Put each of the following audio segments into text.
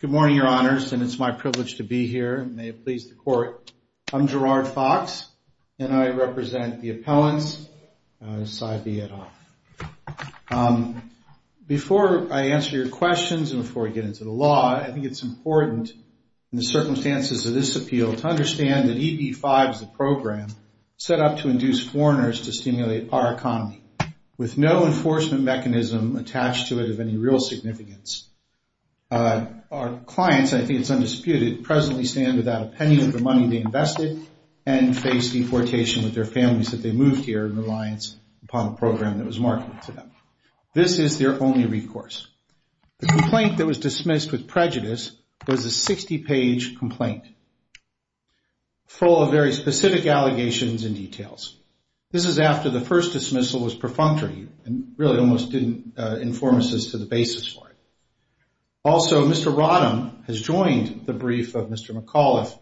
Good morning, your honors, and it's my privilege to be here. May it please the court. I'm Gerard Fox, and I represent the appellants, Cy B. Etoffe. Before I answer your questions and before we get into the law, I think it's important in the circumstances of this appeal to understand that EB-5 is a program set up to induce foreigners to stimulate our economy, with no enforcement mechanism attached to it of any real significance. Our clients, I think it's undisputed, presently stand without a penny of the money they invested, and face deportation with their families that they moved here in reliance upon a program that was marketed to them. This is their only recourse. The complaint that was dismissed with prejudice was a 60-page complaint full of very specific allegations and details. This is after the first dismissal was perfunctory and really almost didn't inform us as to the basis for it. Also, Mr. Rodham has joined the brief of Mr. McAuliffe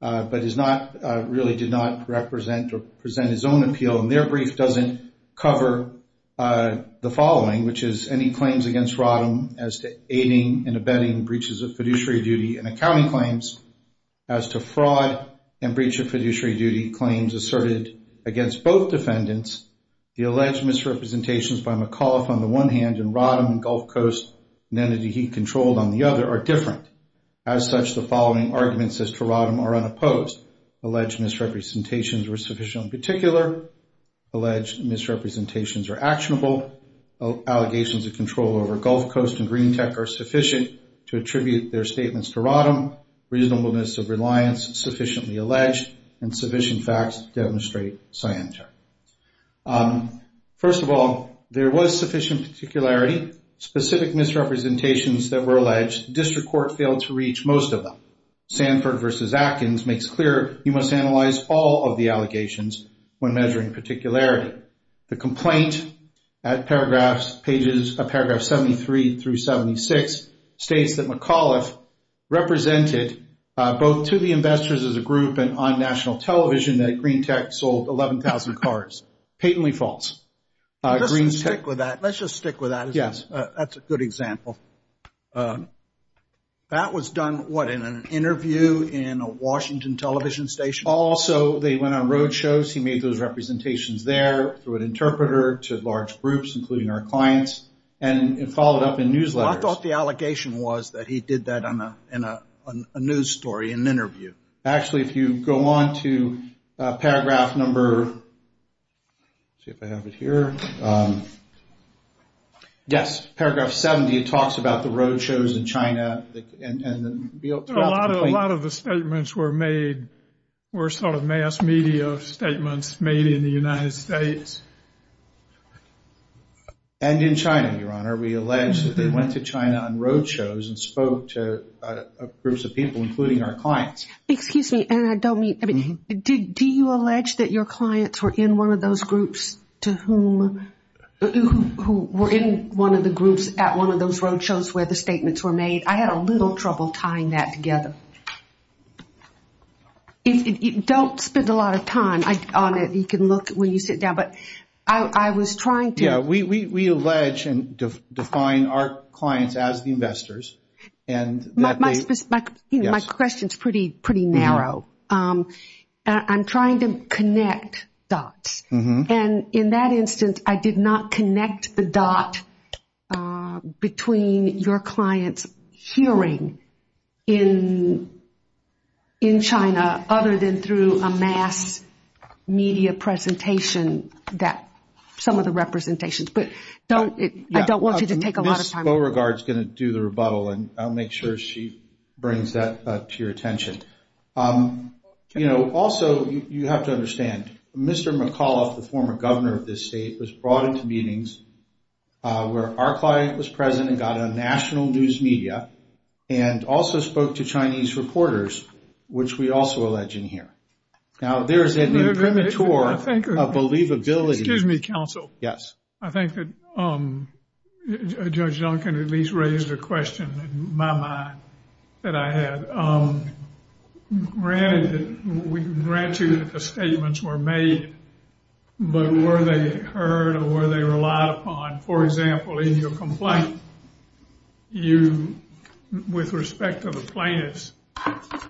but really did not represent or present his own appeal, and their brief doesn't cover the following, which is any claims against Rodham as to aiding and abetting breaches of fiduciary duty and accounting claims, as to fraud and breach of fiduciary duty claims asserted against both defendants. The alleged misrepresentations by McAuliffe on the one hand and Rodham and Gulf Coast and entity he controlled on the other are different. As such, the following arguments as to Rodham are unopposed. Alleged misrepresentations were sufficiently particular. Alleged misrepresentations are actionable. Allegations of control over Gulf Coast and Greentech are sufficient to attribute their statements to Rodham. Reasonableness of reliance sufficiently alleged, and sufficient facts demonstrate scienter. First of all, there was sufficient particularity. Specific misrepresentations that were alleged, district court failed to reach most of them. Sanford v. Atkins makes clear you must analyze all of the allegations when measuring particularity. The complaint at paragraph 73 through 76 states that McAuliffe represented both to the investors as a group and on national television that Greentech sold 11,000 cars. Patently false. Let's just stick with that. That's a good example. That was done, what, in an interview in a Washington television station? Also, they went on road shows. He made those representations there through an interpreter to large groups, including our clients, and followed up in newsletters. I thought the allegation was that he did that in a news story, in an interview. Actually, if you go on to paragraph number, let's see if I have it here. Yes, paragraph 70 talks about the road shows in China. A lot of the statements were made, were sort of mass media statements made in the United States. And in China, Your Honor, we allege that they went to China on road shows and spoke to groups of people, including our clients. Excuse me, and I don't mean, I mean, do you allege that your clients were in one of those groups to whom, who were in one of the groups at one of those road shows where the statements were made? I had a little trouble tying that together. Don't spend a lot of time on it. You can look when you sit down. But I was trying to. Yeah, we allege and define our clients as the investors. My question is pretty, pretty narrow. I'm trying to connect dots. And in that instance, I did not connect the dot between your clients hearing in in China, other than through a mass media presentation that some of the representations. But don't I don't want you to take a lot of time. Beauregard's going to do the rebuttal and I'll make sure she brings that to your attention. You know, also, you have to understand, Mr. McAuliffe, the former governor of this state, was brought into meetings where our client was present and got on national news media and also spoke to Chinese reporters, which we also allege in here. Now, there is an imprimatur of believability. Excuse me, counsel. Yes. I think that Judge Duncan at least raised a question in my mind that I had. Granted, we can grant you that the statements were made. But were they heard or were they relied upon? For example, in your complaint, with respect to the plaintiffs,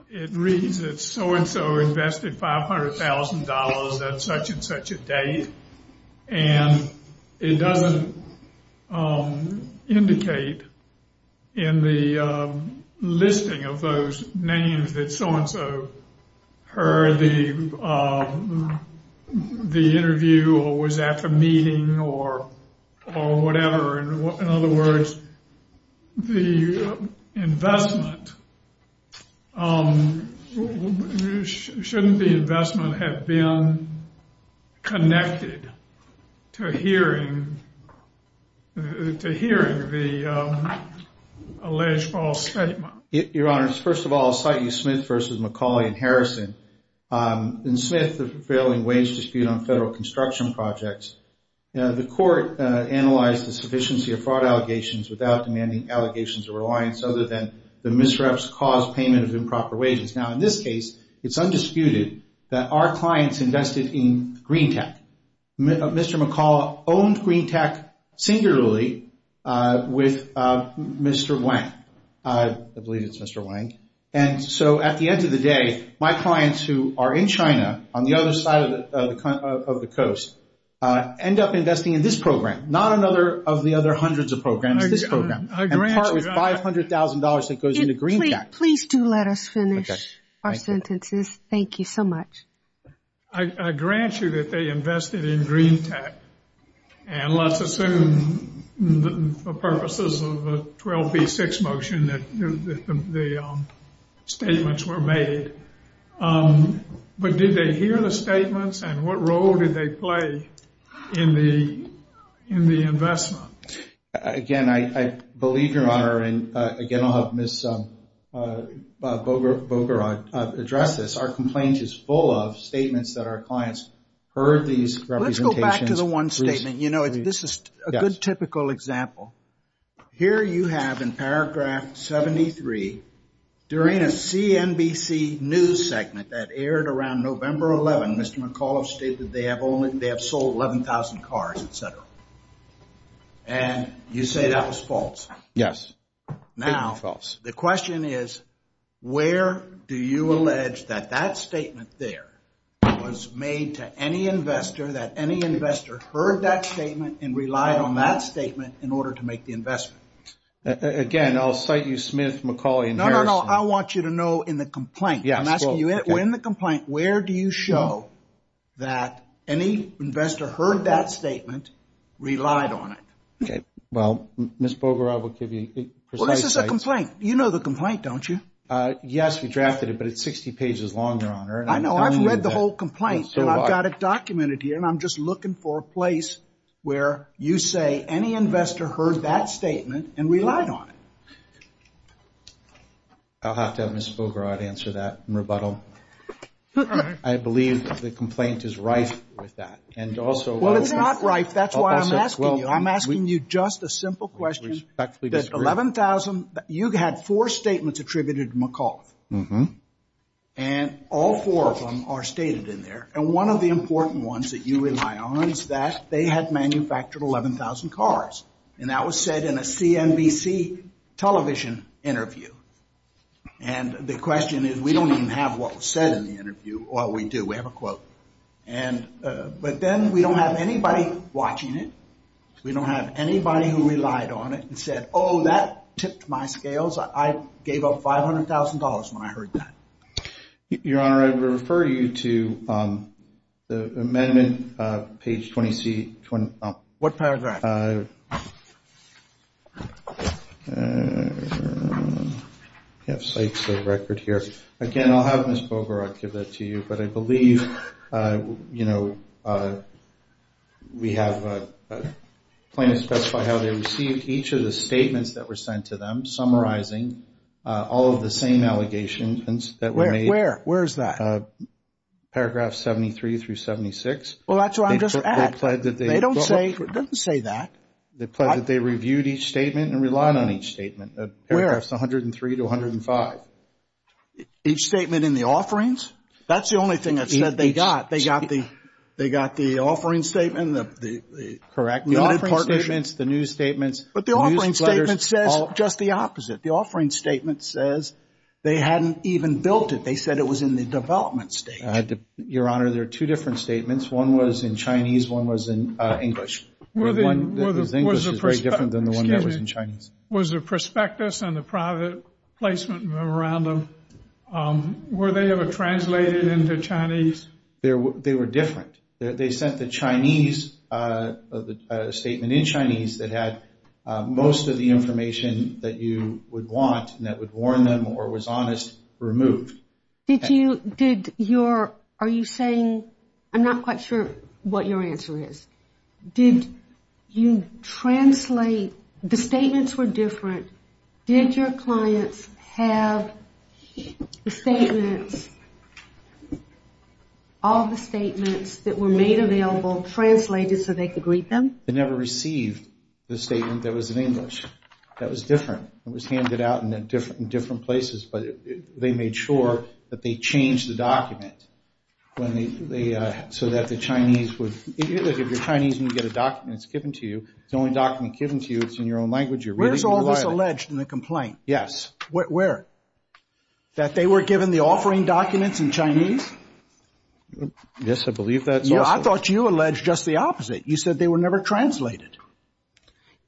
it reads that so and so invested $500,000 at such and such a date. And it doesn't indicate in the listing of those names that so and so heard the interview or was at the meeting or whatever. In other words, shouldn't the investment have been connected to hearing the alleged false statement? Your Honor, first of all, citing Smith v. McCauley and Harrison. In Smith, the prevailing wage dispute on federal construction projects, the court analyzed the sufficiency of fraud allegations without demanding allegations of reliance other than the misreps caused payment of improper wages. Now, in this case, it's undisputed that our clients invested in Green Tech. Mr. McCauley owned Green Tech singularly with Mr. Wang. I believe it's Mr. Wang. And so at the end of the day, my clients who are in China on the other side of the coast end up investing in this program, not another of the other hundreds of programs, this program, and part with $500,000 that goes into Green Tech. Please do let us finish our sentences. Thank you so much. I grant you that they invested in Green Tech. And let's assume for purposes of the 12B6 motion that the statements were made. But did they hear the statements and what role did they play in the investment? Again, I believe, Your Honor, and again, I'll have Ms. Bogorod address this. Our complaint is full of statements that our clients heard these representations. Let's go back to the one statement. You know, this is a good typical example. Here you have in paragraph 73, during a CNBC news segment that aired around November 11, Mr. McAuliffe stated they have sold 11,000 cars, et cetera. And you say that was false. Yes. Now, the question is, where do you allege that that statement there was made to any investor, that any investor heard that statement and relied on that statement in order to make the investment? Again, I'll cite you, Smith, McCauley, and Harrison. No, no, no. I want you to know in the complaint. I'm asking you, in the complaint, where do you show that any investor heard that statement, relied on it? Well, Ms. Bogorod will give you precise sites. Well, this is a complaint. You know the complaint, don't you? Yes, we drafted it, but it's 60 pages long, Your Honor. I know. I've read the whole complaint, and I've got it documented here, and I'm just looking for a place where you say any investor heard that statement and relied on it. I'll have to have Ms. Bogorod answer that in rebuttal. I believe the complaint is rife with that. Well, it's not rife. That's why I'm asking you. I'm asking you just a simple question. Respectfully disagree. You had four statements attributed to McAuliffe. And all four of them are stated in there. And one of the important ones that you rely on is that they had manufactured 11,000 cars, and that was said in a CNBC television interview. And the question is, we don't even have what was said in the interview. Well, we do. We have a quote. But then we don't have anybody watching it. We don't have anybody who relied on it and said, oh, that tipped my scales. I gave up $500,000 when I heard that. Your Honor, I would refer you to the amendment, page 20C. What paragraph? We have sites of record here. Again, I'll have Ms. Bogorod give that to you. But I believe, you know, we have a claim to specify how they received each of the statements that were sent to them, summarizing all of the same allegations that were made. Where? Where is that? Paragraph 73 through 76. Well, that's what I'm just at. It doesn't say that. They pled that they reviewed each statement and relied on each statement. Where? Paragraphs 103 to 105. Each statement in the offerings? That's the only thing that's said they got. They got the offering statement? Correct. The offering statements, the news statements. But the offering statement says just the opposite. The offering statement says they hadn't even built it. They said it was in the development stage. Your Honor, there are two different statements. One was in Chinese. One was in English. The English is very different than the one that was in Chinese. Was the prospectus and the private placement memorandum, were they ever translated into Chinese? They were different. They sent the Chinese, the statement in Chinese that had most of the information that you would want and that would warn them or was honest, removed. Did you, did your, are you saying, I'm not quite sure what your answer is. Did you translate, the statements were different. Did your clients have the statements, all the statements that were made available translated so they could read them? They never received the statement that was in English. That was different. It was handed out in different places, but they made sure that they changed the document so that the Chinese would, if you're Chinese and you get a document that's given to you, it's the only document given to you. It's in your own language. Where's all this alleged in the complaint? Yes. Where? That they were given the offering documents in Chinese? Yes, I believe that's also. Yeah, I thought you alleged just the opposite. You said they were never translated.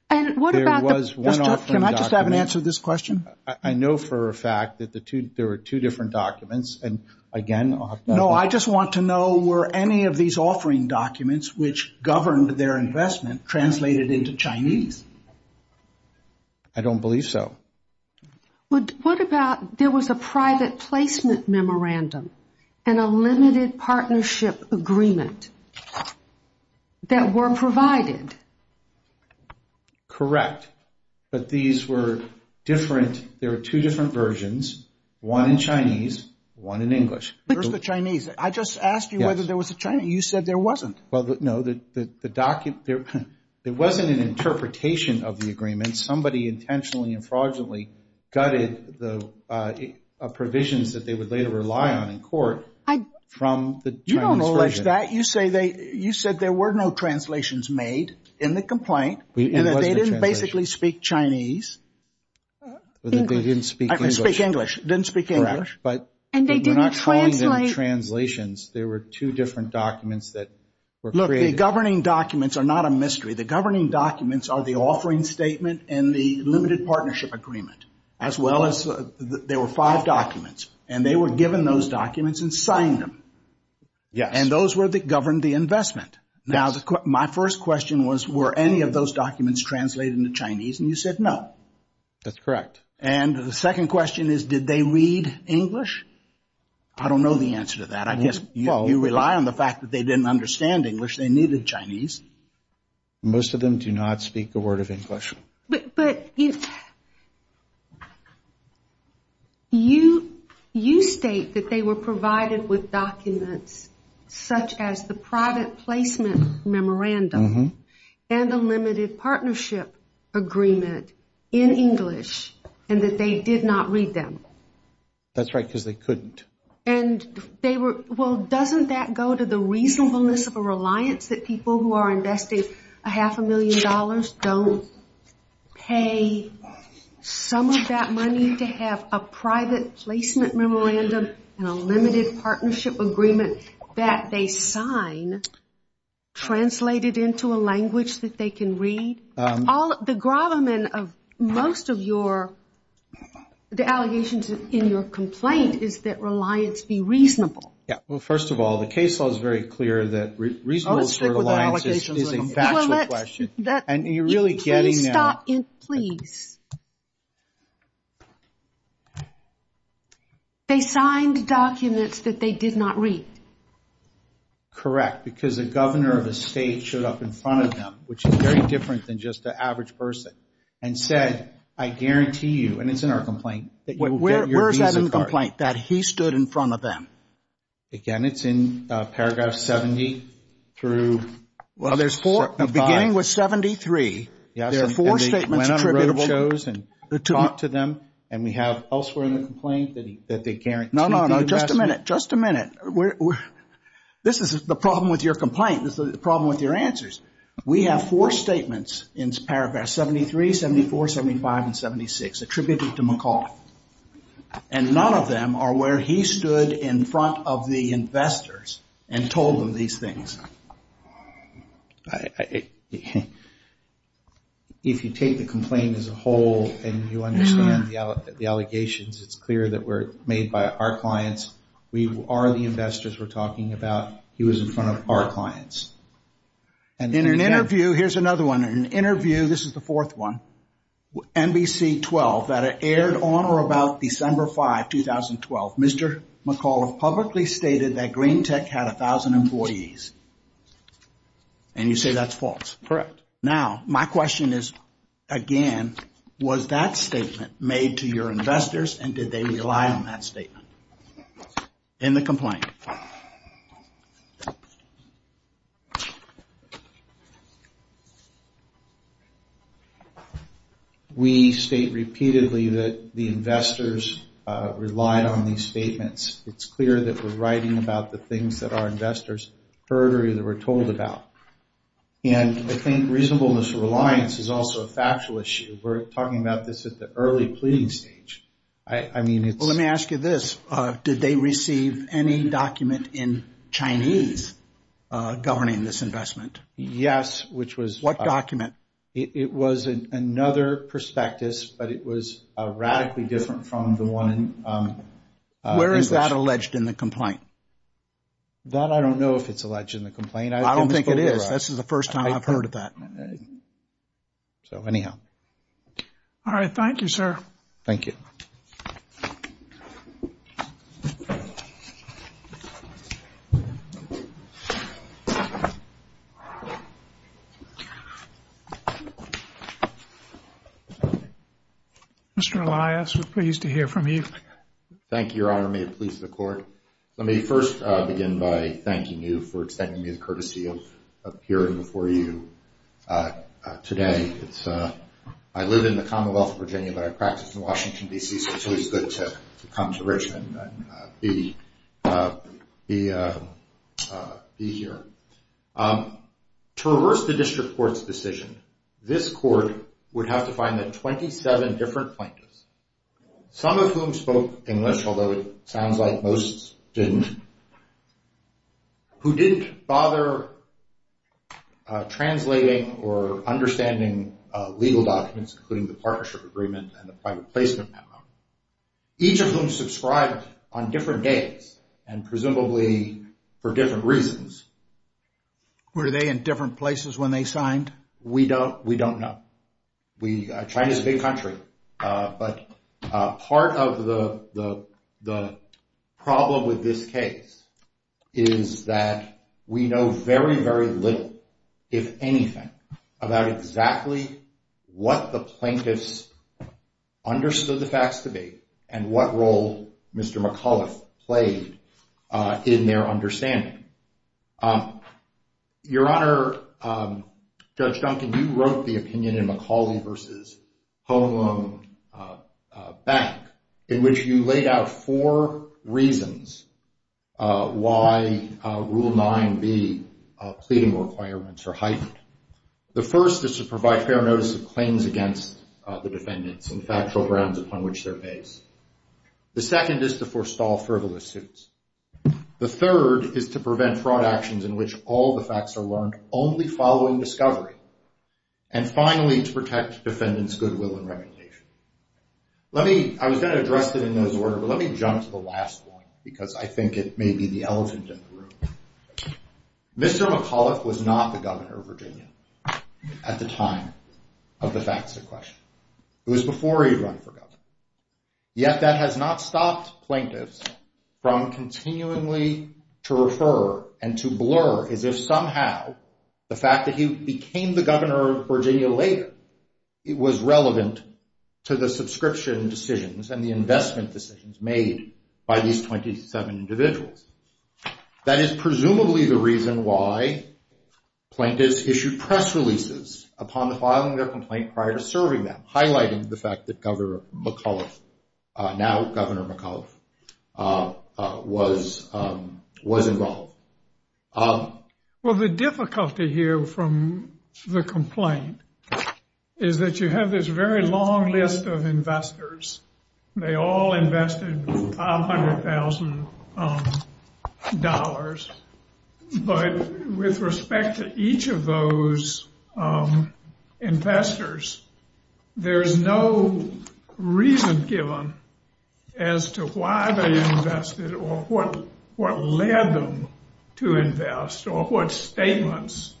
And what about the... Can I just have an answer to this question? I know for a fact that the two, there were two different documents and again... I don't believe so. What about there was a private placement memorandum and a limited partnership agreement that were provided? Correct, but these were different. There were two different versions, one in Chinese, one in English. Where's the Chinese? I just asked you whether there was a Chinese. You said there wasn't. Well, no, the document, there wasn't an interpretation of the agreement. Somebody intentionally and fraudulently gutted the provisions that they would later rely on in court from the Chinese version. You don't allege that. You said there were no translations made in the complaint and that they didn't basically speak Chinese. They didn't speak English. Didn't speak English. Didn't speak English. Correct, but... And they didn't translate. There were two different documents that were created. Look, the governing documents are not a mystery. The governing documents are the offering statement and the limited partnership agreement, as well as, there were five documents. And they were given those documents and signed them. Yes. And those were that governed the investment. Now, my first question was, were any of those documents translated into Chinese? And you said no. That's correct. And the second question is, did they read English? I don't know the answer to that. I guess you rely on the fact that they didn't understand English. They needed Chinese. Most of them do not speak a word of English. But you state that they were provided with documents such as the private placement memorandum and the limited partnership agreement in English and that they did not read them. That's right, because they couldn't. And they were, well, doesn't that go to the reasonableness of a reliance that people who are invested a half a million dollars don't pay some of that money to have a private placement memorandum and a limited partnership agreement that they sign translated into a language that they can read? The gravamen of most of your, the allegations in your complaint is that reliance be reasonable. Well, first of all, the case law is very clear that reasonable sort of reliance is a factual question. And you're really getting there. Please stop. Please. They signed documents that they did not read. Correct, because the governor of the state showed up in front of them, which is very different than just the average person, and said, I guarantee you, and it's in our complaint, that you will get your visa card. Where is that in the complaint, that he stood in front of them? Again, it's in paragraph 70 through. Well, there's four, beginning with 73. There are four statements attributable. Yes, and they went on road shows and talked to them. And we have elsewhere in the complaint that they guaranteed the investment. No, no, no. Just a minute. Just a minute. This is the problem with your complaint. This is the problem with your answers. We have four statements in paragraph 73, 74, 75, and 76 attributed to McAuliffe. And none of them are where he stood in front of the investors and told them these things. If you take the complaint as a whole and you understand the allegations, it's clear that were made by our clients. We are the investors we're talking about. He was in front of our clients. In an interview, here's another one. In an interview, this is the fourth one, NBC 12, that aired on or about December 5, 2012, Mr. McAuliffe publicly stated that Green Tech had 1,000 employees. And you say that's false. Correct. Now, my question is, again, was that statement made to your investors and did they rely on that statement in the complaint? We state repeatedly that the investors relied on these statements. It's clear that we're writing about the things that our investors heard or that we're told about. And I think reasonableness and reliance is also a factual issue. We're talking about this at the early pleading stage. Let me ask you this. Did they receive any document in Chinese governing this investment? Yes. What document? It was another prospectus, but it was radically different from the one in English. Where is that alleged in the complaint? That I don't know if it's alleged in the complaint. I don't think it is. So, anyhow. All right. Thank you, sir. Thank you. Mr. Elias, we're pleased to hear from you. Thank you, Your Honor. May it please the Court. Let me first begin by thanking you for extending me the courtesy of appearing before you today. I live in the Commonwealth of Virginia, but I practice in Washington, D.C., so it's always good to come to Richmond and be here. To reverse the District Court's decision, this Court would have to find the 27 different plaintiffs, some of whom spoke English, although it sounds like most didn't, who didn't bother translating or understanding legal documents, including the Partnership Agreement and the Private Placement Memo, each of whom subscribed on different days and presumably for different reasons. Were they in different places when they signed? We don't know. China's a big country, but part of the problem with this case is that we know very, very little, if anything, about exactly what the plaintiffs understood the facts to be and what role Mr. McAuliffe played in their understanding. Your Honor, Judge Duncan, you wrote the opinion in McCauley v. Home Loan Bank in which you laid out four reasons why Rule 9b pleading requirements are heightened. The first is to provide fair notice of claims against the defendants and factual grounds upon which they're based. The second is to forestall frivolous suits. The third is to prevent fraud actions in which all the facts are learned only following discovery. And finally, to protect defendants' goodwill and reputation. I was going to address it in those words, but let me jump to the last one because I think it may be the elephant in the room. Mr. McAuliffe was not the governor of Virginia at the time of the facts in question. It was before he'd run for governor. Yet that has not stopped plaintiffs from continually to refer and to blur as if somehow the fact that he became the governor of Virginia later was relevant to the subscription decisions and the investment decisions made by these 27 individuals. That is presumably the reason why plaintiffs issued press releases upon filing their complaint prior to serving them, highlighting the fact that Governor McAuliffe, now Governor McAuliffe, was involved. Well, the difficulty here from the complaint is that you have this very long list of investors. They all invested $500,000. But with respect to each of those investors, there is no reason given as to why they invested or what led them to invest or what statements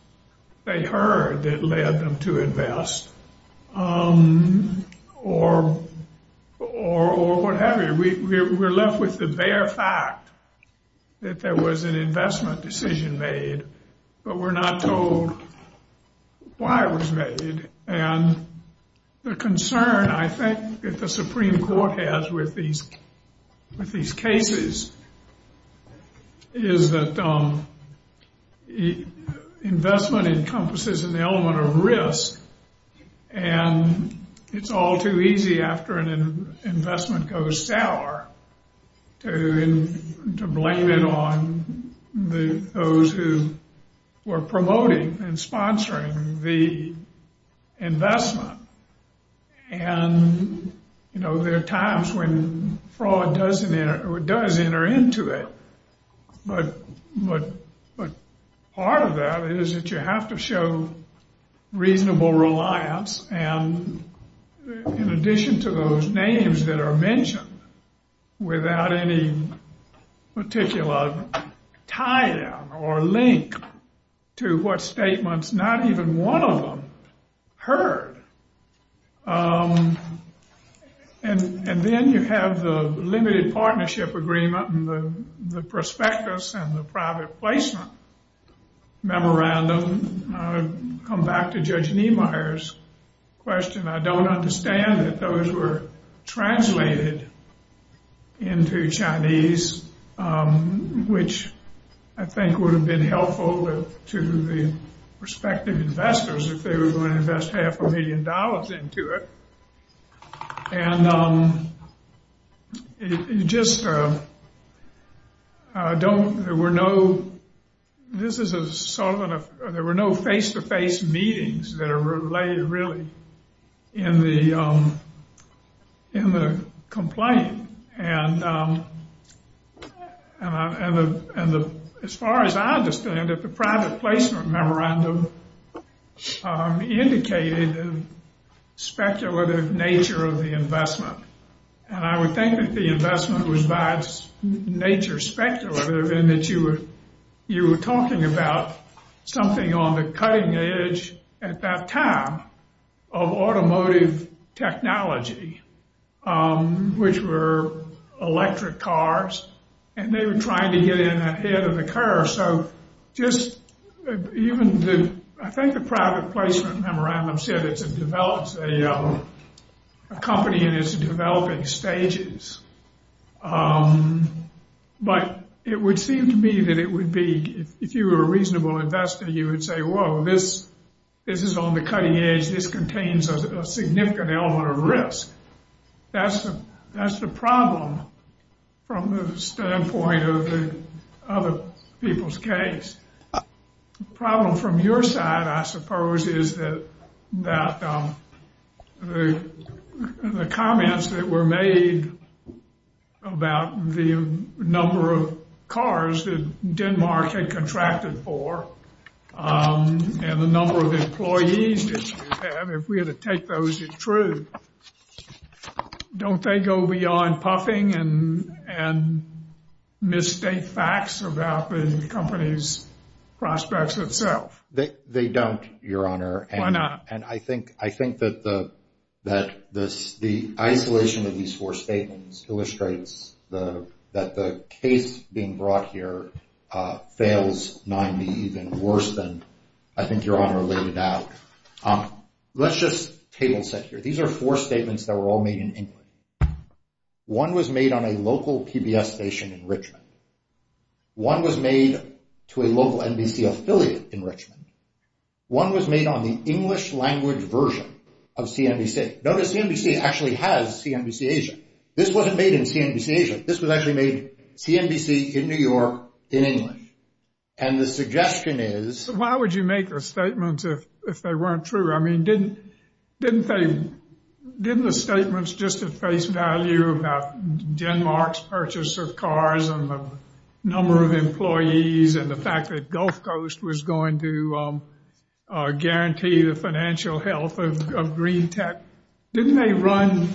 they heard that led them to invest or what have you. We're left with the bare fact that there was an investment decision made, but we're not told why it was made. And the concern, I think, that the Supreme Court has with these cases is that investment encompasses an element of risk, and it's all too easy after an investment goes sour to blame it on those who were promoting and sponsoring the investment. And, you know, there are times when fraud does enter into it, but part of that is that you have to show reasonable reliance, and in addition to those names that are mentioned without any particular tie-in or link to what statements not even one of them heard. And then you have the limited partnership agreement and the prospectus and the private placement memorandum. I'll come back to Judge Niemeyer's question. I don't understand that those were translated into Chinese, which I think would have been helpful to the respective investors if they were to invest half a million dollars into it. And you just don't – there were no – this is sort of a – there were no face-to-face meetings that are related really in the complaint. And as far as I understand it, the private placement memorandum indicated a speculative nature of the investment, and I would think that the investment was by nature speculative in that you were talking about something on the cutting edge at that time of automotive technology, which were electric cars, and they were trying to get in ahead of the curve. So just even the – I think the private placement memorandum said it develops a company in its developing stages. But it would seem to me that it would be – if you were a reasonable investor, you would say, whoa, this is on the cutting edge. This contains a significant element of risk. That's the problem from the standpoint of the other people's case. The problem from your side, I suppose, is that the comments that were made about the number of cars that Denmark had contracted for and the number of employees that you have, if we were to take those in truth, don't they go beyond puffing and mistake facts about the company's prospects itself? They don't, Your Honor. Why not? And I think that the isolation of these four statements illustrates that the case being brought here fails not even worse than, I think, Your Honor laid it out. Let's just table set here. These are four statements that were all made in England. One was made on a local PBS station in Richmond. One was made to a local NBC affiliate in Richmond. One was made on the English language version of CNBC. Notice CNBC actually has CNBC Asia. This wasn't made in CNBC Asia. This was actually made CNBC in New York in English. And the suggestion is – Why would you make a statement if they weren't true? I mean, didn't the statements just at face value about Denmark's purchase of cars and the number of employees and the fact that Gulf Coast was going to guarantee the financial health of Green Tech, didn't they run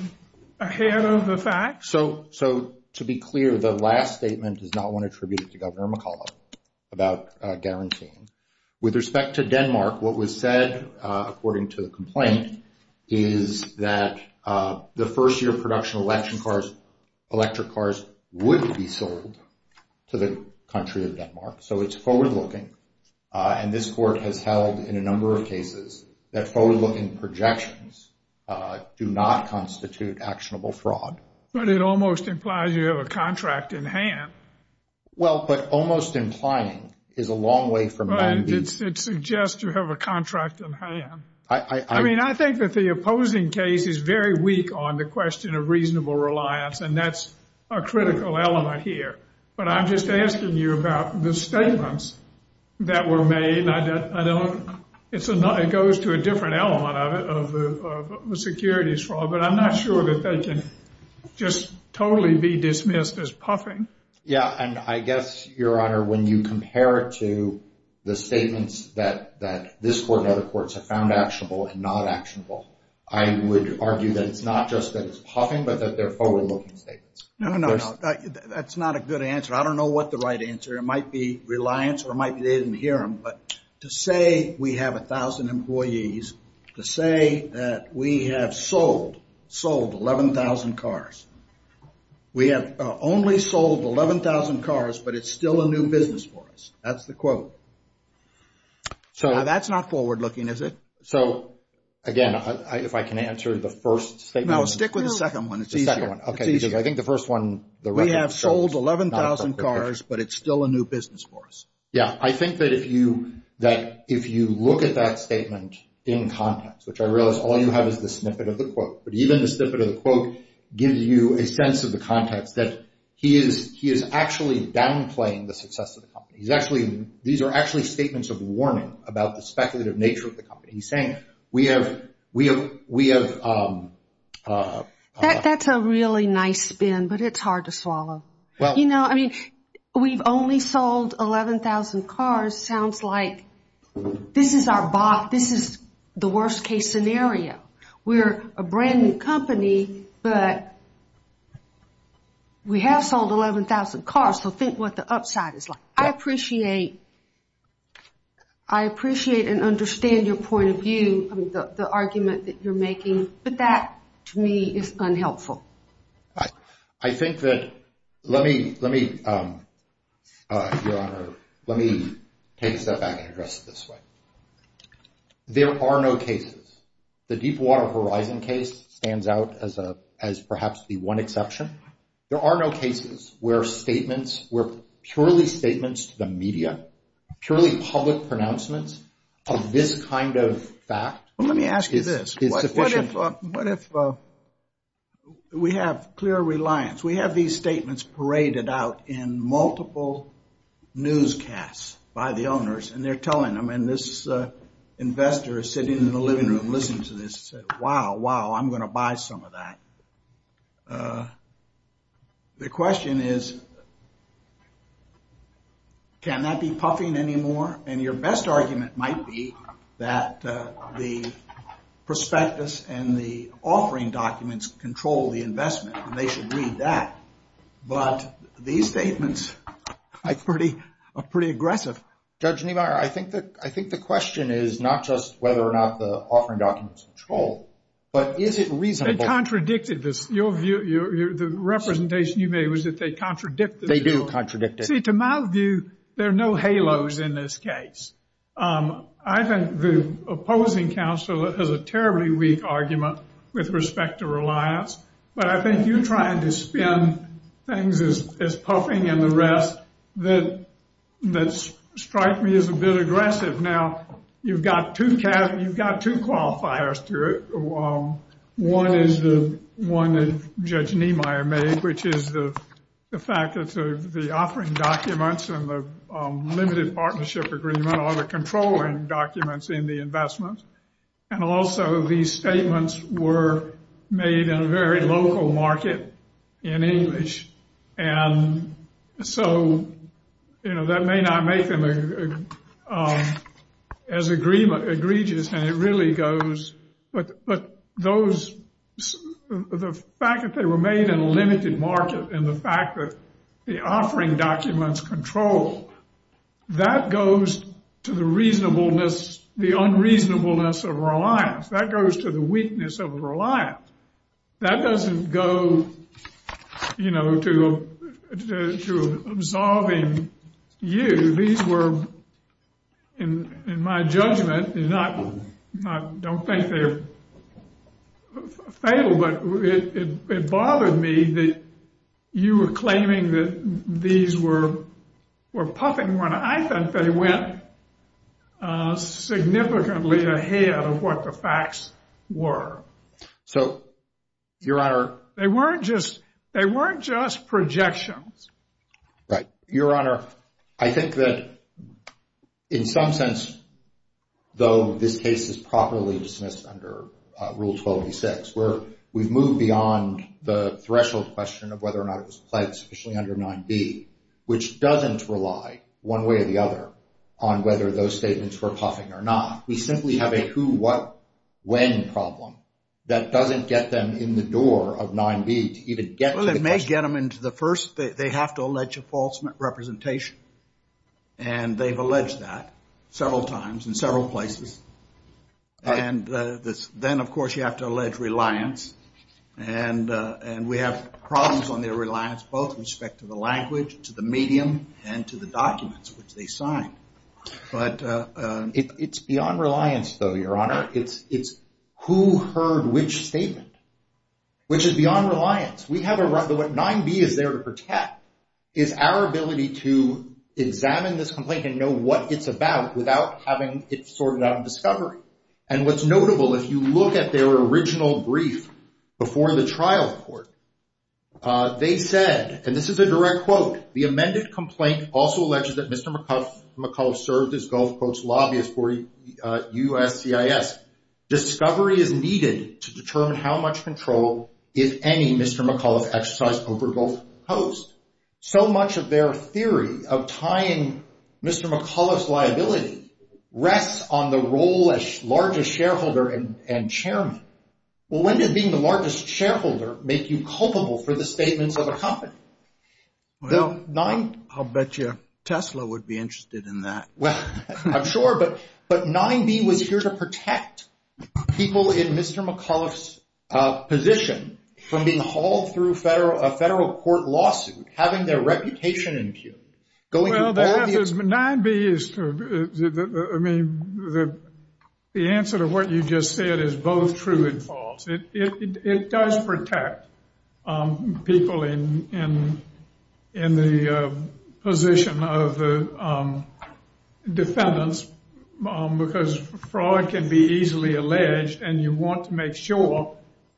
ahead of the facts? So, to be clear, the last statement is not one attributed to Governor McCullough about guaranteeing. With respect to Denmark, what was said, according to the complaint, is that the first-year production of electric cars would be sold to the country of Denmark. So it's forward-looking. And this Court has held in a number of cases that forward-looking projections do not constitute actionable fraud. But it almost implies you have a contract in hand. Well, but almost implying is a long way from – It suggests you have a contract in hand. I mean, I think that the opposing case is very weak on the question of reasonable reliance. And that's a critical element here. But I'm just asking you about the statements that were made. I don't – it goes to a different element of the securities fraud. But I'm not sure that they can just totally be dismissed as puffing. Yeah, and I guess, Your Honor, when you compare it to the statements that this Court and other courts have found actionable and not actionable, I would argue that it's not just that it's puffing, but that they're forward-looking statements. No, no, no. That's not a good answer. I don't know what the right answer. It might be reliance, or it might be they didn't hear them. But to say we have 1,000 employees, to say that we have sold 11,000 cars, we have only sold 11,000 cars, but it's still a new business for us. That's the quote. Now, that's not forward-looking, is it? So, again, if I can answer the first statement. No, stick with the second one. It's easier. Okay, because I think the first one – We have sold 11,000 cars, but it's still a new business for us. Yeah, I think that if you look at that statement in context, which I realize all you have is the snippet of the quote. But even the snippet of the quote gives you a sense of the context, that he is actually downplaying the success of the company. These are actually statements of warning about the speculative nature of the company. He's saying, we have – That's a really nice spin, but it's hard to swallow. You know, I mean, we've only sold 11,000 cars. Sounds like this is the worst-case scenario. We're a brand-new company, but we have sold 11,000 cars, so think what the upside is like. I appreciate and understand your point of view, the argument that you're making, but that, to me, is unhelpful. I think that – let me, Your Honor, let me take a step back and address it this way. There are no cases. The Deepwater Horizon case stands out as perhaps the one exception. There are no cases where statements, where purely statements to the media, purely public pronouncements of this kind of fact is sufficient. Well, let me ask you this. What if we have clear reliance, we have these statements paraded out in multiple newscasts by the owners, and they're telling them, and this investor is sitting in the living room listening to this, saying, wow, wow, I'm going to buy some of that. The question is, can that be puffing anymore? And your best argument might be that the prospectus and the offering documents control the investment, and they should read that. But these statements are pretty aggressive. Judge Niemeyer, I think the question is not just whether or not the offering documents control, but is it reasonable? They contradicted this. The representation you made was that they contradicted it. They do contradict it. See, to my view, there are no halos in this case. I think the opposing counsel has a terribly weak argument with respect to reliance, but I think you're trying to spin things as puffing and the rest that strike me as a bit aggressive. Now, you've got two qualifiers to it. One is the one that Judge Niemeyer made, which is the fact that the offering documents and the limited partnership agreement are the controlling documents in the investment. And also these statements were made in a very local market in English. And so, you know, that may not make them as egregious. And it really goes. But the fact that they were made in a limited market and the fact that the offering documents control, that goes to the reasonableness, the unreasonableness of reliance. That goes to the weakness of reliance. That doesn't go, you know, to absolving you. These were, in my judgment, I don't think they're fatal, but it bothered me that you were claiming that these were puffing when I think they went significantly ahead of what the facts were. So, Your Honor. They weren't just projections. Right. Your Honor, I think that in some sense, though this case is properly dismissed under Rule 1286, where we've moved beyond the threshold question of whether or not it was pledged sufficiently under 9b, which doesn't rely one way or the other on whether those statements were puffing or not. We simply have a who, what, when problem that doesn't get them in the door of 9b to even get to the question. First, they have to allege a false representation, and they've alleged that several times in several places. And then, of course, you have to allege reliance. And we have problems on their reliance both with respect to the language, to the medium, and to the documents which they signed. But it's beyond reliance, though, Your Honor. It's who heard which statement, which is beyond reliance. What 9b is there to protect is our ability to examine this complaint and know what it's about without having it sorted out in discovery. And what's notable, if you look at their original brief before the trial court, they said, and this is a direct quote, the amended complaint also alleges that Mr. McAuliffe served as Gulf Coast lobbyist for USCIS. Discovery is needed to determine how much control, if any, Mr. McAuliffe exercised over Gulf Coast. So much of their theory of tying Mr. McAuliffe's liability rests on the role as largest shareholder and chairman. Well, when did being the largest shareholder make you culpable for the statements of a company? Well, I'll bet you Tesla would be interested in that. Well, I'm sure, but 9b was here to protect people in Mr. McAuliffe's position from being hauled through a federal court lawsuit, having their reputation impugned. Well, 9b is, I mean, the answer to what you just said is both true and false. It does protect people in the position of the defendants because fraud can be easily alleged. And you want to make sure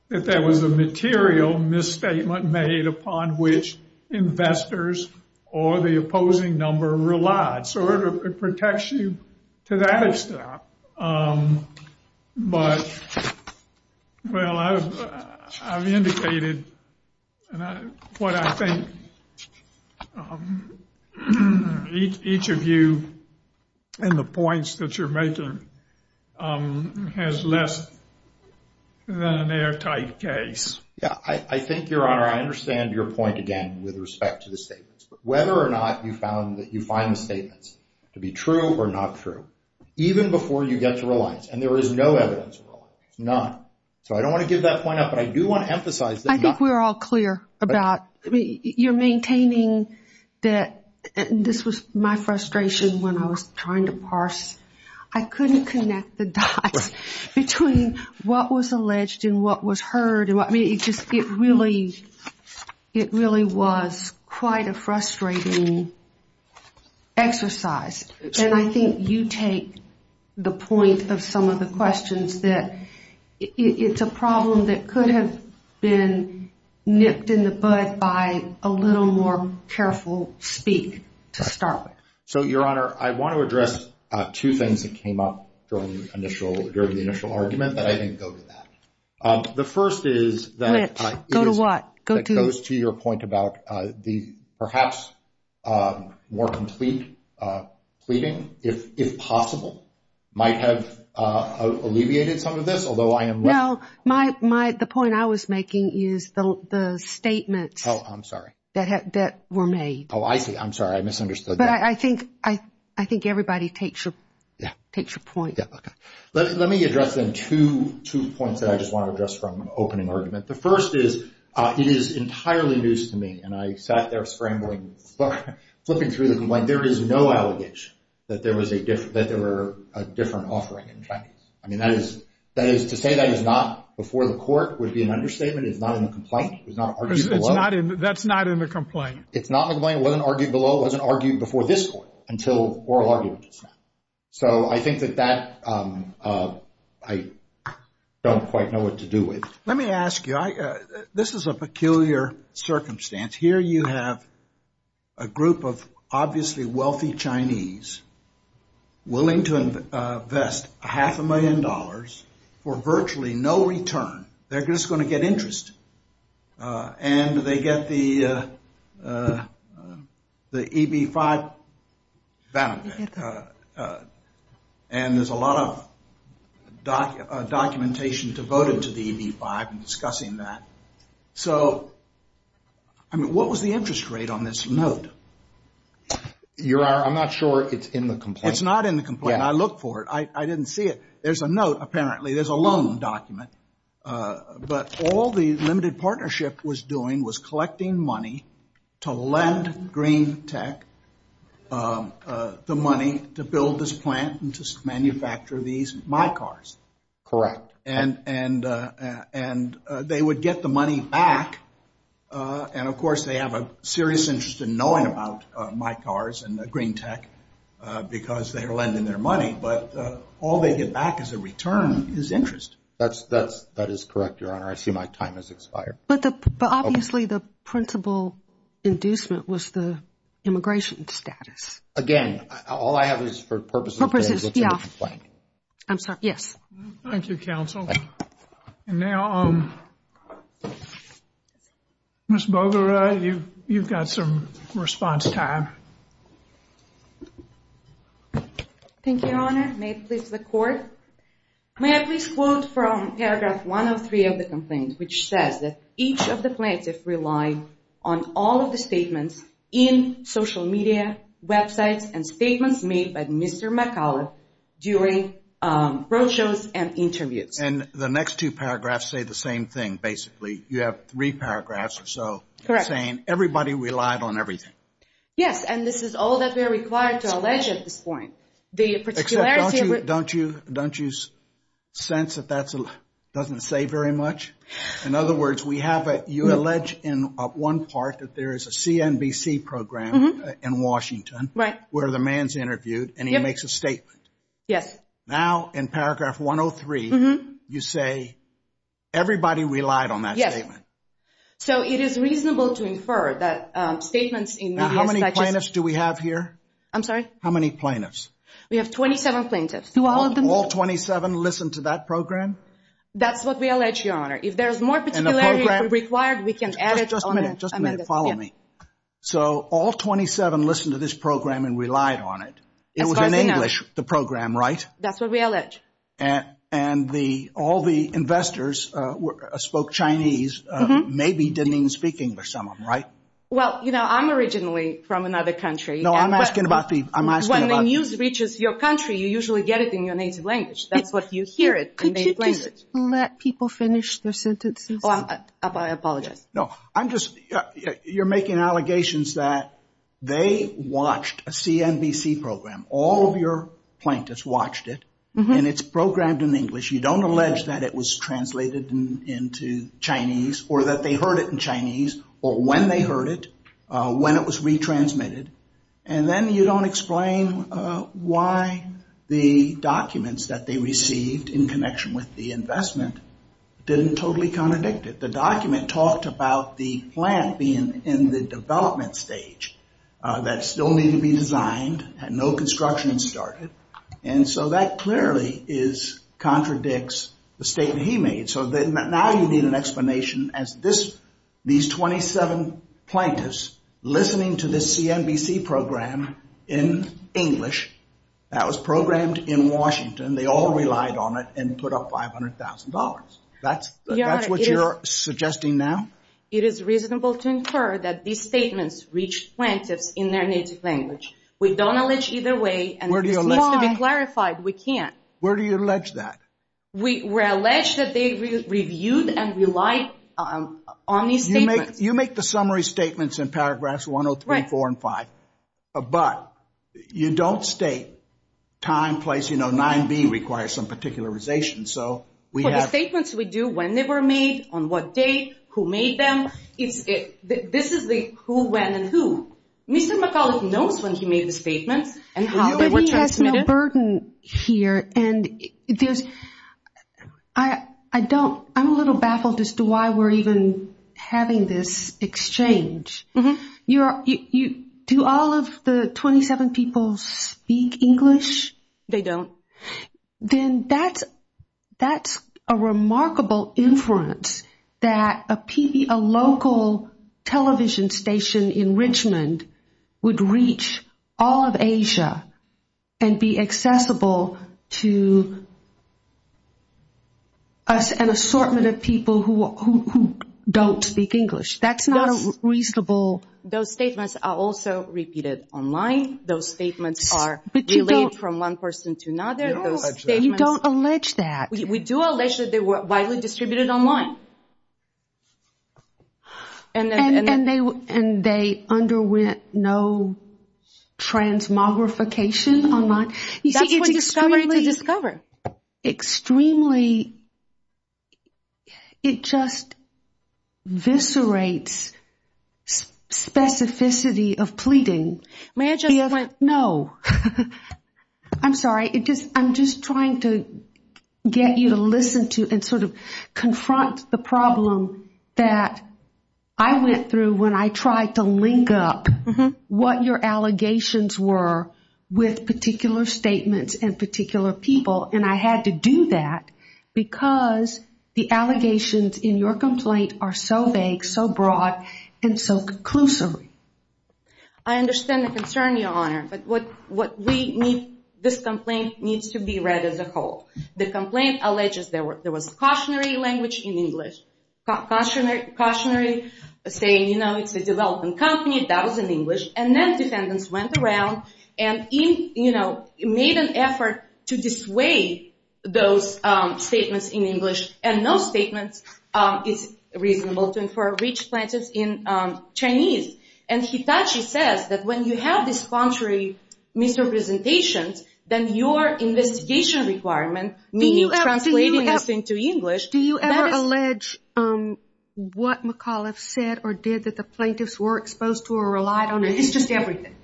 that there was a material misstatement made upon which investors or the opposing number relied. So it protects you to that extent. But, well, I've indicated what I think each of you and the points that you're making has less than an airtight case. Yeah, I think, Your Honor, I understand your point again with respect to the statements. Whether or not you found that you find the statements to be true or not true, even before you get to reliance. And there is no evidence of reliance, none. So I don't want to give that point up, but I do want to emphasize that. I think we're all clear about, I mean, you're maintaining that, and this was my frustration when I was trying to parse. I couldn't connect the dots between what was alleged and what was heard. I mean, it really was quite a frustrating exercise. And I think you take the point of some of the questions that it's a problem that could have been nipped in the bud by a little more careful speak to start with. So, Your Honor, I want to address two things that came up during the initial argument that I didn't go to that. The first is that it goes to your point about the perhaps more complete pleading, if possible, might have alleviated some of this, although I am left. Well, the point I was making is the statements that were made. Oh, I'm sorry. I misunderstood that. But I think everybody takes your point. Yeah, okay. Let me address then two points that I just want to address from opening argument. The first is, it is entirely news to me, and I sat there scrambling, flipping through the complaint. There is no allegation that there was a different, that there were a different offering in Chinese. I mean, that is, to say that is not before the court would be an understatement. It's not in the complaint. It was not argued below. That's not in the complaint. It's not in the complaint. It wasn't argued below. It wasn't argued before this court until oral argument just now. So I think that that I don't quite know what to do with. Let me ask you, this is a peculiar circumstance. Here you have a group of obviously wealthy Chinese willing to invest half a million dollars for virtually no return. They're just going to get interest. And they get the EB-5 benefit. And there's a lot of documentation devoted to the EB-5 discussing that. So, I mean, what was the interest rate on this note? I'm not sure it's in the complaint. It's not in the complaint. I looked for it. I didn't see it. There's a note, apparently. There's a loan document. But all the limited partnership was doing was collecting money to lend Green Tech the money to build this plant and to manufacture these MyCars. Correct. And they would get the money back. And, of course, they have a serious interest in knowing about MyCars and Green Tech because they are lending their money. But all they get back as a return is interest. That is correct, Your Honor. I see my time has expired. But obviously the principal inducement was the immigration status. Again, all I have is for purposes of the complaint. I'm sorry. Yes. Thank you, counsel. And now, Ms. Bogler, you've got some response time. Thank you, Your Honor. May it please the Court. May I please quote from paragraph 103 of the complaint, which says that each of the plaintiffs relied on all of the statements in social media, websites, and statements made by Mr. McAuliffe during roadshows and interviews. And the next two paragraphs say the same thing, basically. You have three paragraphs or so saying everybody relied on everything. Yes. And this is all that we are required to allege at this point. Don't you sense that that doesn't say very much? In other words, you allege in one part that there is a CNBC program in Washington where the man is interviewed and he makes a statement. Yes. Now, in paragraph 103, you say everybody relied on that statement. Yes. So it is reasonable to infer that statements in media such as – Now, how many plaintiffs do we have here? I'm sorry? How many plaintiffs? We have 27 plaintiffs. Do all of them – All 27 listened to that program? That's what we allege, Your Honor. And the program – If there is more particularity required, we can add it on the – Just a minute. Just a minute. Follow me. So all 27 listened to this program and relied on it. As far as we know. It was in English, the program, right? That's what we allege. And all the investors spoke Chinese, maybe didn't even speak English some of them, right? Well, you know, I'm originally from another country. No, I'm asking about the – When the news reaches your country, you usually get it in your native language. That's what you hear it in native language. Could you just let people finish their sentences? Oh, I apologize. No, I'm just – you're making allegations that they watched a CNBC program. All of your plaintiffs watched it, and it's programmed in English. You don't allege that it was translated into Chinese or that they heard it in Chinese or when they heard it, when it was retransmitted. And then you don't explain why the documents that they received in connection with the investment didn't totally contradict it. The document talked about the plant being in the development stage that still needed to be designed, had no construction started. And so that clearly contradicts the statement he made. So now you need an explanation as these 27 plaintiffs listening to this CNBC program in English, that was programmed in Washington. They all relied on it and put up $500,000. That's what you're suggesting now? It is reasonable to infer that these statements reach plaintiffs in their native language. We don't allege either way. And this needs to be clarified. We can't. Where do you allege that? We're alleged that they reviewed and relied on these statements. You make the summary statements in paragraphs 103, 4, and 5. But you don't state time, place. You know, 9B requires some particularization. For the statements we do, when they were made, on what day, who made them, this is the who, when, and who. Mr. McCulloch knows when he made his statements and how they were transmitted. But he has no burden here. And I'm a little baffled as to why we're even having this exchange. Do all of the 27 people speak English? They don't. Then that's a remarkable inference that a local television station in Richmond would reach all of Asia and be accessible to an assortment of people who don't speak English. That's not a reasonable. Those statements are also repeated online. Those statements are relayed from one person to another. You don't allege that. We do allege that they were widely distributed online. And they underwent no transmogrification online? That's what it's trying to discover. Extremely, it just viscerates specificity of pleading. No. I'm sorry. I'm just trying to get you to listen to and sort of confront the problem that I went through when I tried to link up what your allegations were with particular statements and particular people. And I had to do that because the allegations in your complaint are so vague, so broad, and so conclusory. I understand the concern, Your Honor. But this complaint needs to be read as a whole. The complaint alleges there was cautionary language in English. Cautionary saying, you know, it's a development company. That was in English. And then defendants went around and made an effort to dissuade those statements in English. And no statement is reasonable to reach plaintiffs in Chinese. And Hitachi says that when you have these contrary misrepresentations, then your investigation requirement, meaning translating this into English, Do you ever allege what McAuliffe said or did that the plaintiffs were exposed to or relied on? It's just everything.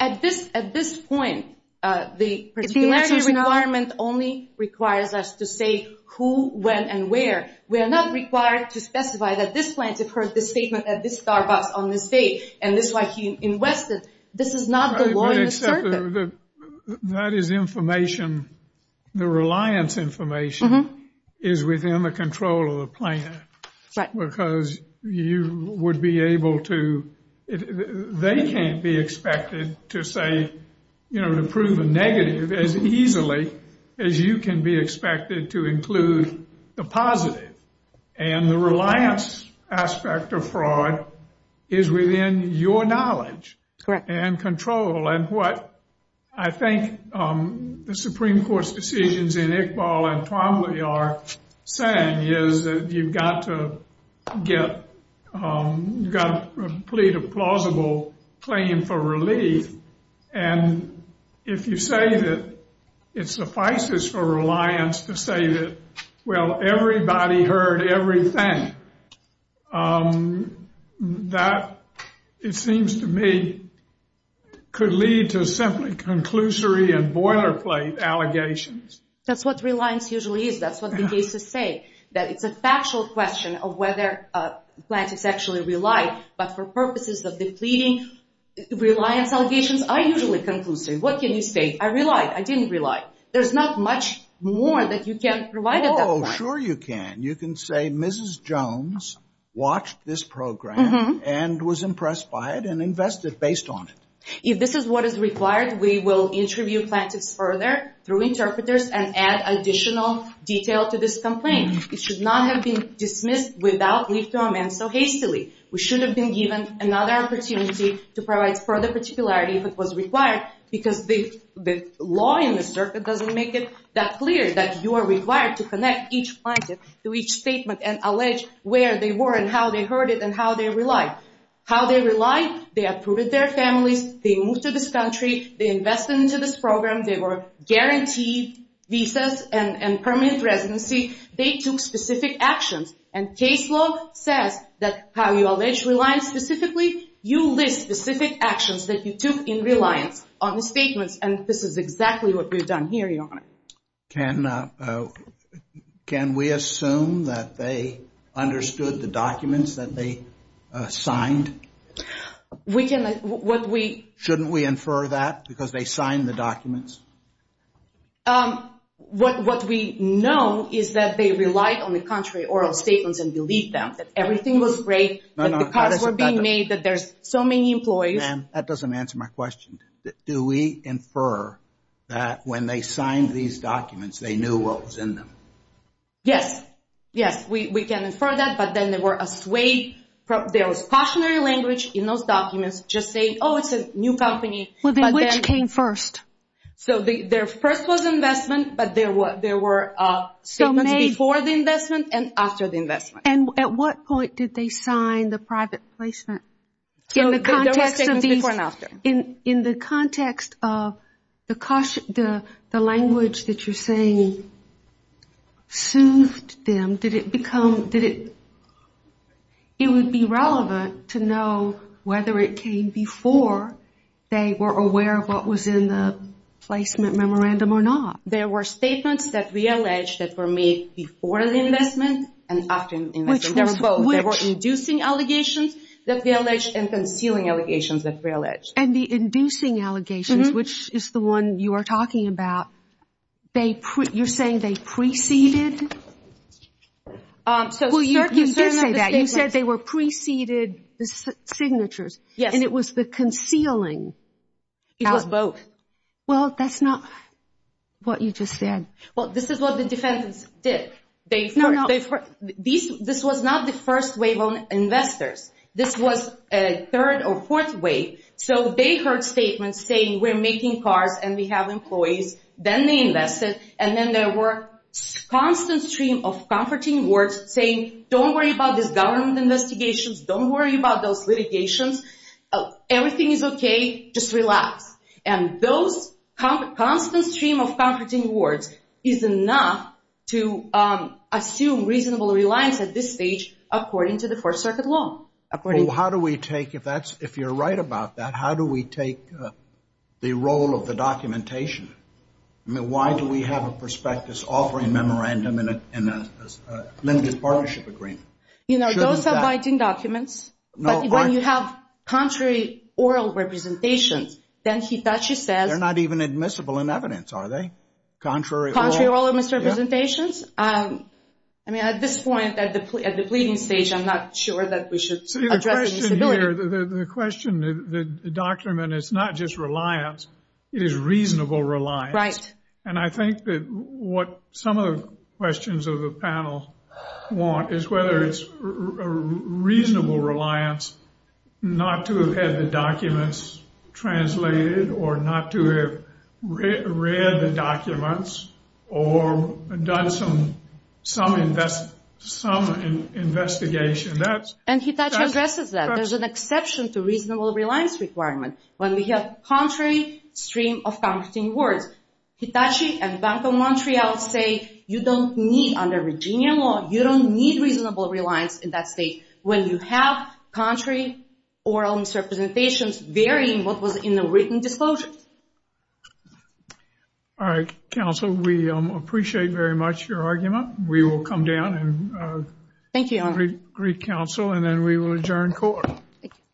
At this point, the particularity requirement only requires us to say who, when, and where. We are not required to specify that this plaintiff heard this statement at this Starbucks on this day and this is why he invested. This is not the law in the circuit. That is information. The reliance information is within the control of the plaintiff. Right. Because you would be able to, they can't be expected to say, you know, to prove a negative as easily as you can be expected to include the positive. And the reliance aspect of fraud is within your knowledge and control. And what I think the Supreme Court's decisions in Iqbal and Twombly are saying is that you've got to get, got to plead a plausible claim for relief. And if you say that it suffices for reliance to say that, well, everybody heard everything. That, it seems to me, could lead to simply conclusory and boilerplate allegations. That's what reliance usually is. That's what the cases say, that it's a factual question of whether a plaintiff actually relied. But for purposes of the pleading, reliance allegations are usually conclusory. What can you say? I relied. I didn't rely. There's not much more that you can provide at that point. Oh, sure you can. You can say Mrs. Jones watched this program and was impressed by it and invested based on it. If this is what is required, we will interview plaintiffs further through interpreters and add additional detail to this complaint. It should not have been dismissed without leave to amend so hastily. We should have been given another opportunity to provide further particularity if it was required because the law in the circuit doesn't make it that clear that you are required to connect each plaintiff to each statement and allege where they were and how they heard it and how they relied. How they relied? They approved their families. They moved to this country. They invested into this program. They were guaranteed visas and permanent residency. They took specific actions, and case law says that how you allege reliance specifically, you list specific actions that you took in reliance on the statements, and this is exactly what we've done here, Your Honor. Can we assume that they understood the documents that they signed? Shouldn't we infer that because they signed the documents? What we know is that they relied on the contrary oral statements and believed them, that everything was great, that the cards were being made, that there's so many employees. Ma'am, that doesn't answer my question. Do we infer that when they signed these documents they knew what was in them? Yes. Yes, we can infer that, but then there was cautionary language in those documents just saying, oh, it's a new company. Which came first? So their first was investment, but there were statements before the investment and after the investment. And at what point did they sign the private placement? There were statements before and after. In the context of the language that you're saying soothed them, did it become – it would be relevant to know whether it came before they were aware of what was in the placement memorandum or not. There were statements that we alleged that were made before the investment and after the investment. Which was which? Inducing allegations that we alleged and concealing allegations that we alleged. And the inducing allegations, which is the one you are talking about, you're saying they preceded? Well, you did say that. You said they were preceded signatures. Yes. And it was the concealing. It was both. Well, that's not what you just said. Well, this is what the defendants did. This was not the first wave of investors. This was a third or fourth wave. So they heard statements saying we're making cars and we have employees. Then they invested. And then there were a constant stream of comforting words saying don't worry about these government investigations. Don't worry about those litigations. Everything is okay. Just relax. And those constant stream of comforting words is enough to assume reasonable reliance at this stage according to the Fourth Circuit law. Well, how do we take, if you're right about that, how do we take the role of the documentation? I mean, why do we have a prospectus offering memorandum in a limited partnership agreement? You know, those are binding documents. But when you have contrary oral representations, then Hitachi says— They're not even admissible in evidence, are they? Contrary oral? Contrary oral misrepresentations. I mean, at this point, at the pleading stage, I'm not sure that we should address the disability. The question, the document, it's not just reliance. It is reasonable reliance. Right. And I think that what some of the questions of the panel want is whether it's a reasonable reliance not to have had the documents translated or not to have read the documents or done some investigation. And Hitachi addresses that. There's an exception to reasonable reliance requirement when we have contrary stream of comforting words. Hitachi and Bank of Montreal say you don't need, under Virginia law, you don't need reasonable reliance in that state when you have contrary oral misrepresentations varying what was in the written disclosure. All right, counsel, we appreciate very much your argument. We will come down and— Thank you, Your Honor. —greet counsel, and then we will adjourn court. Thank you.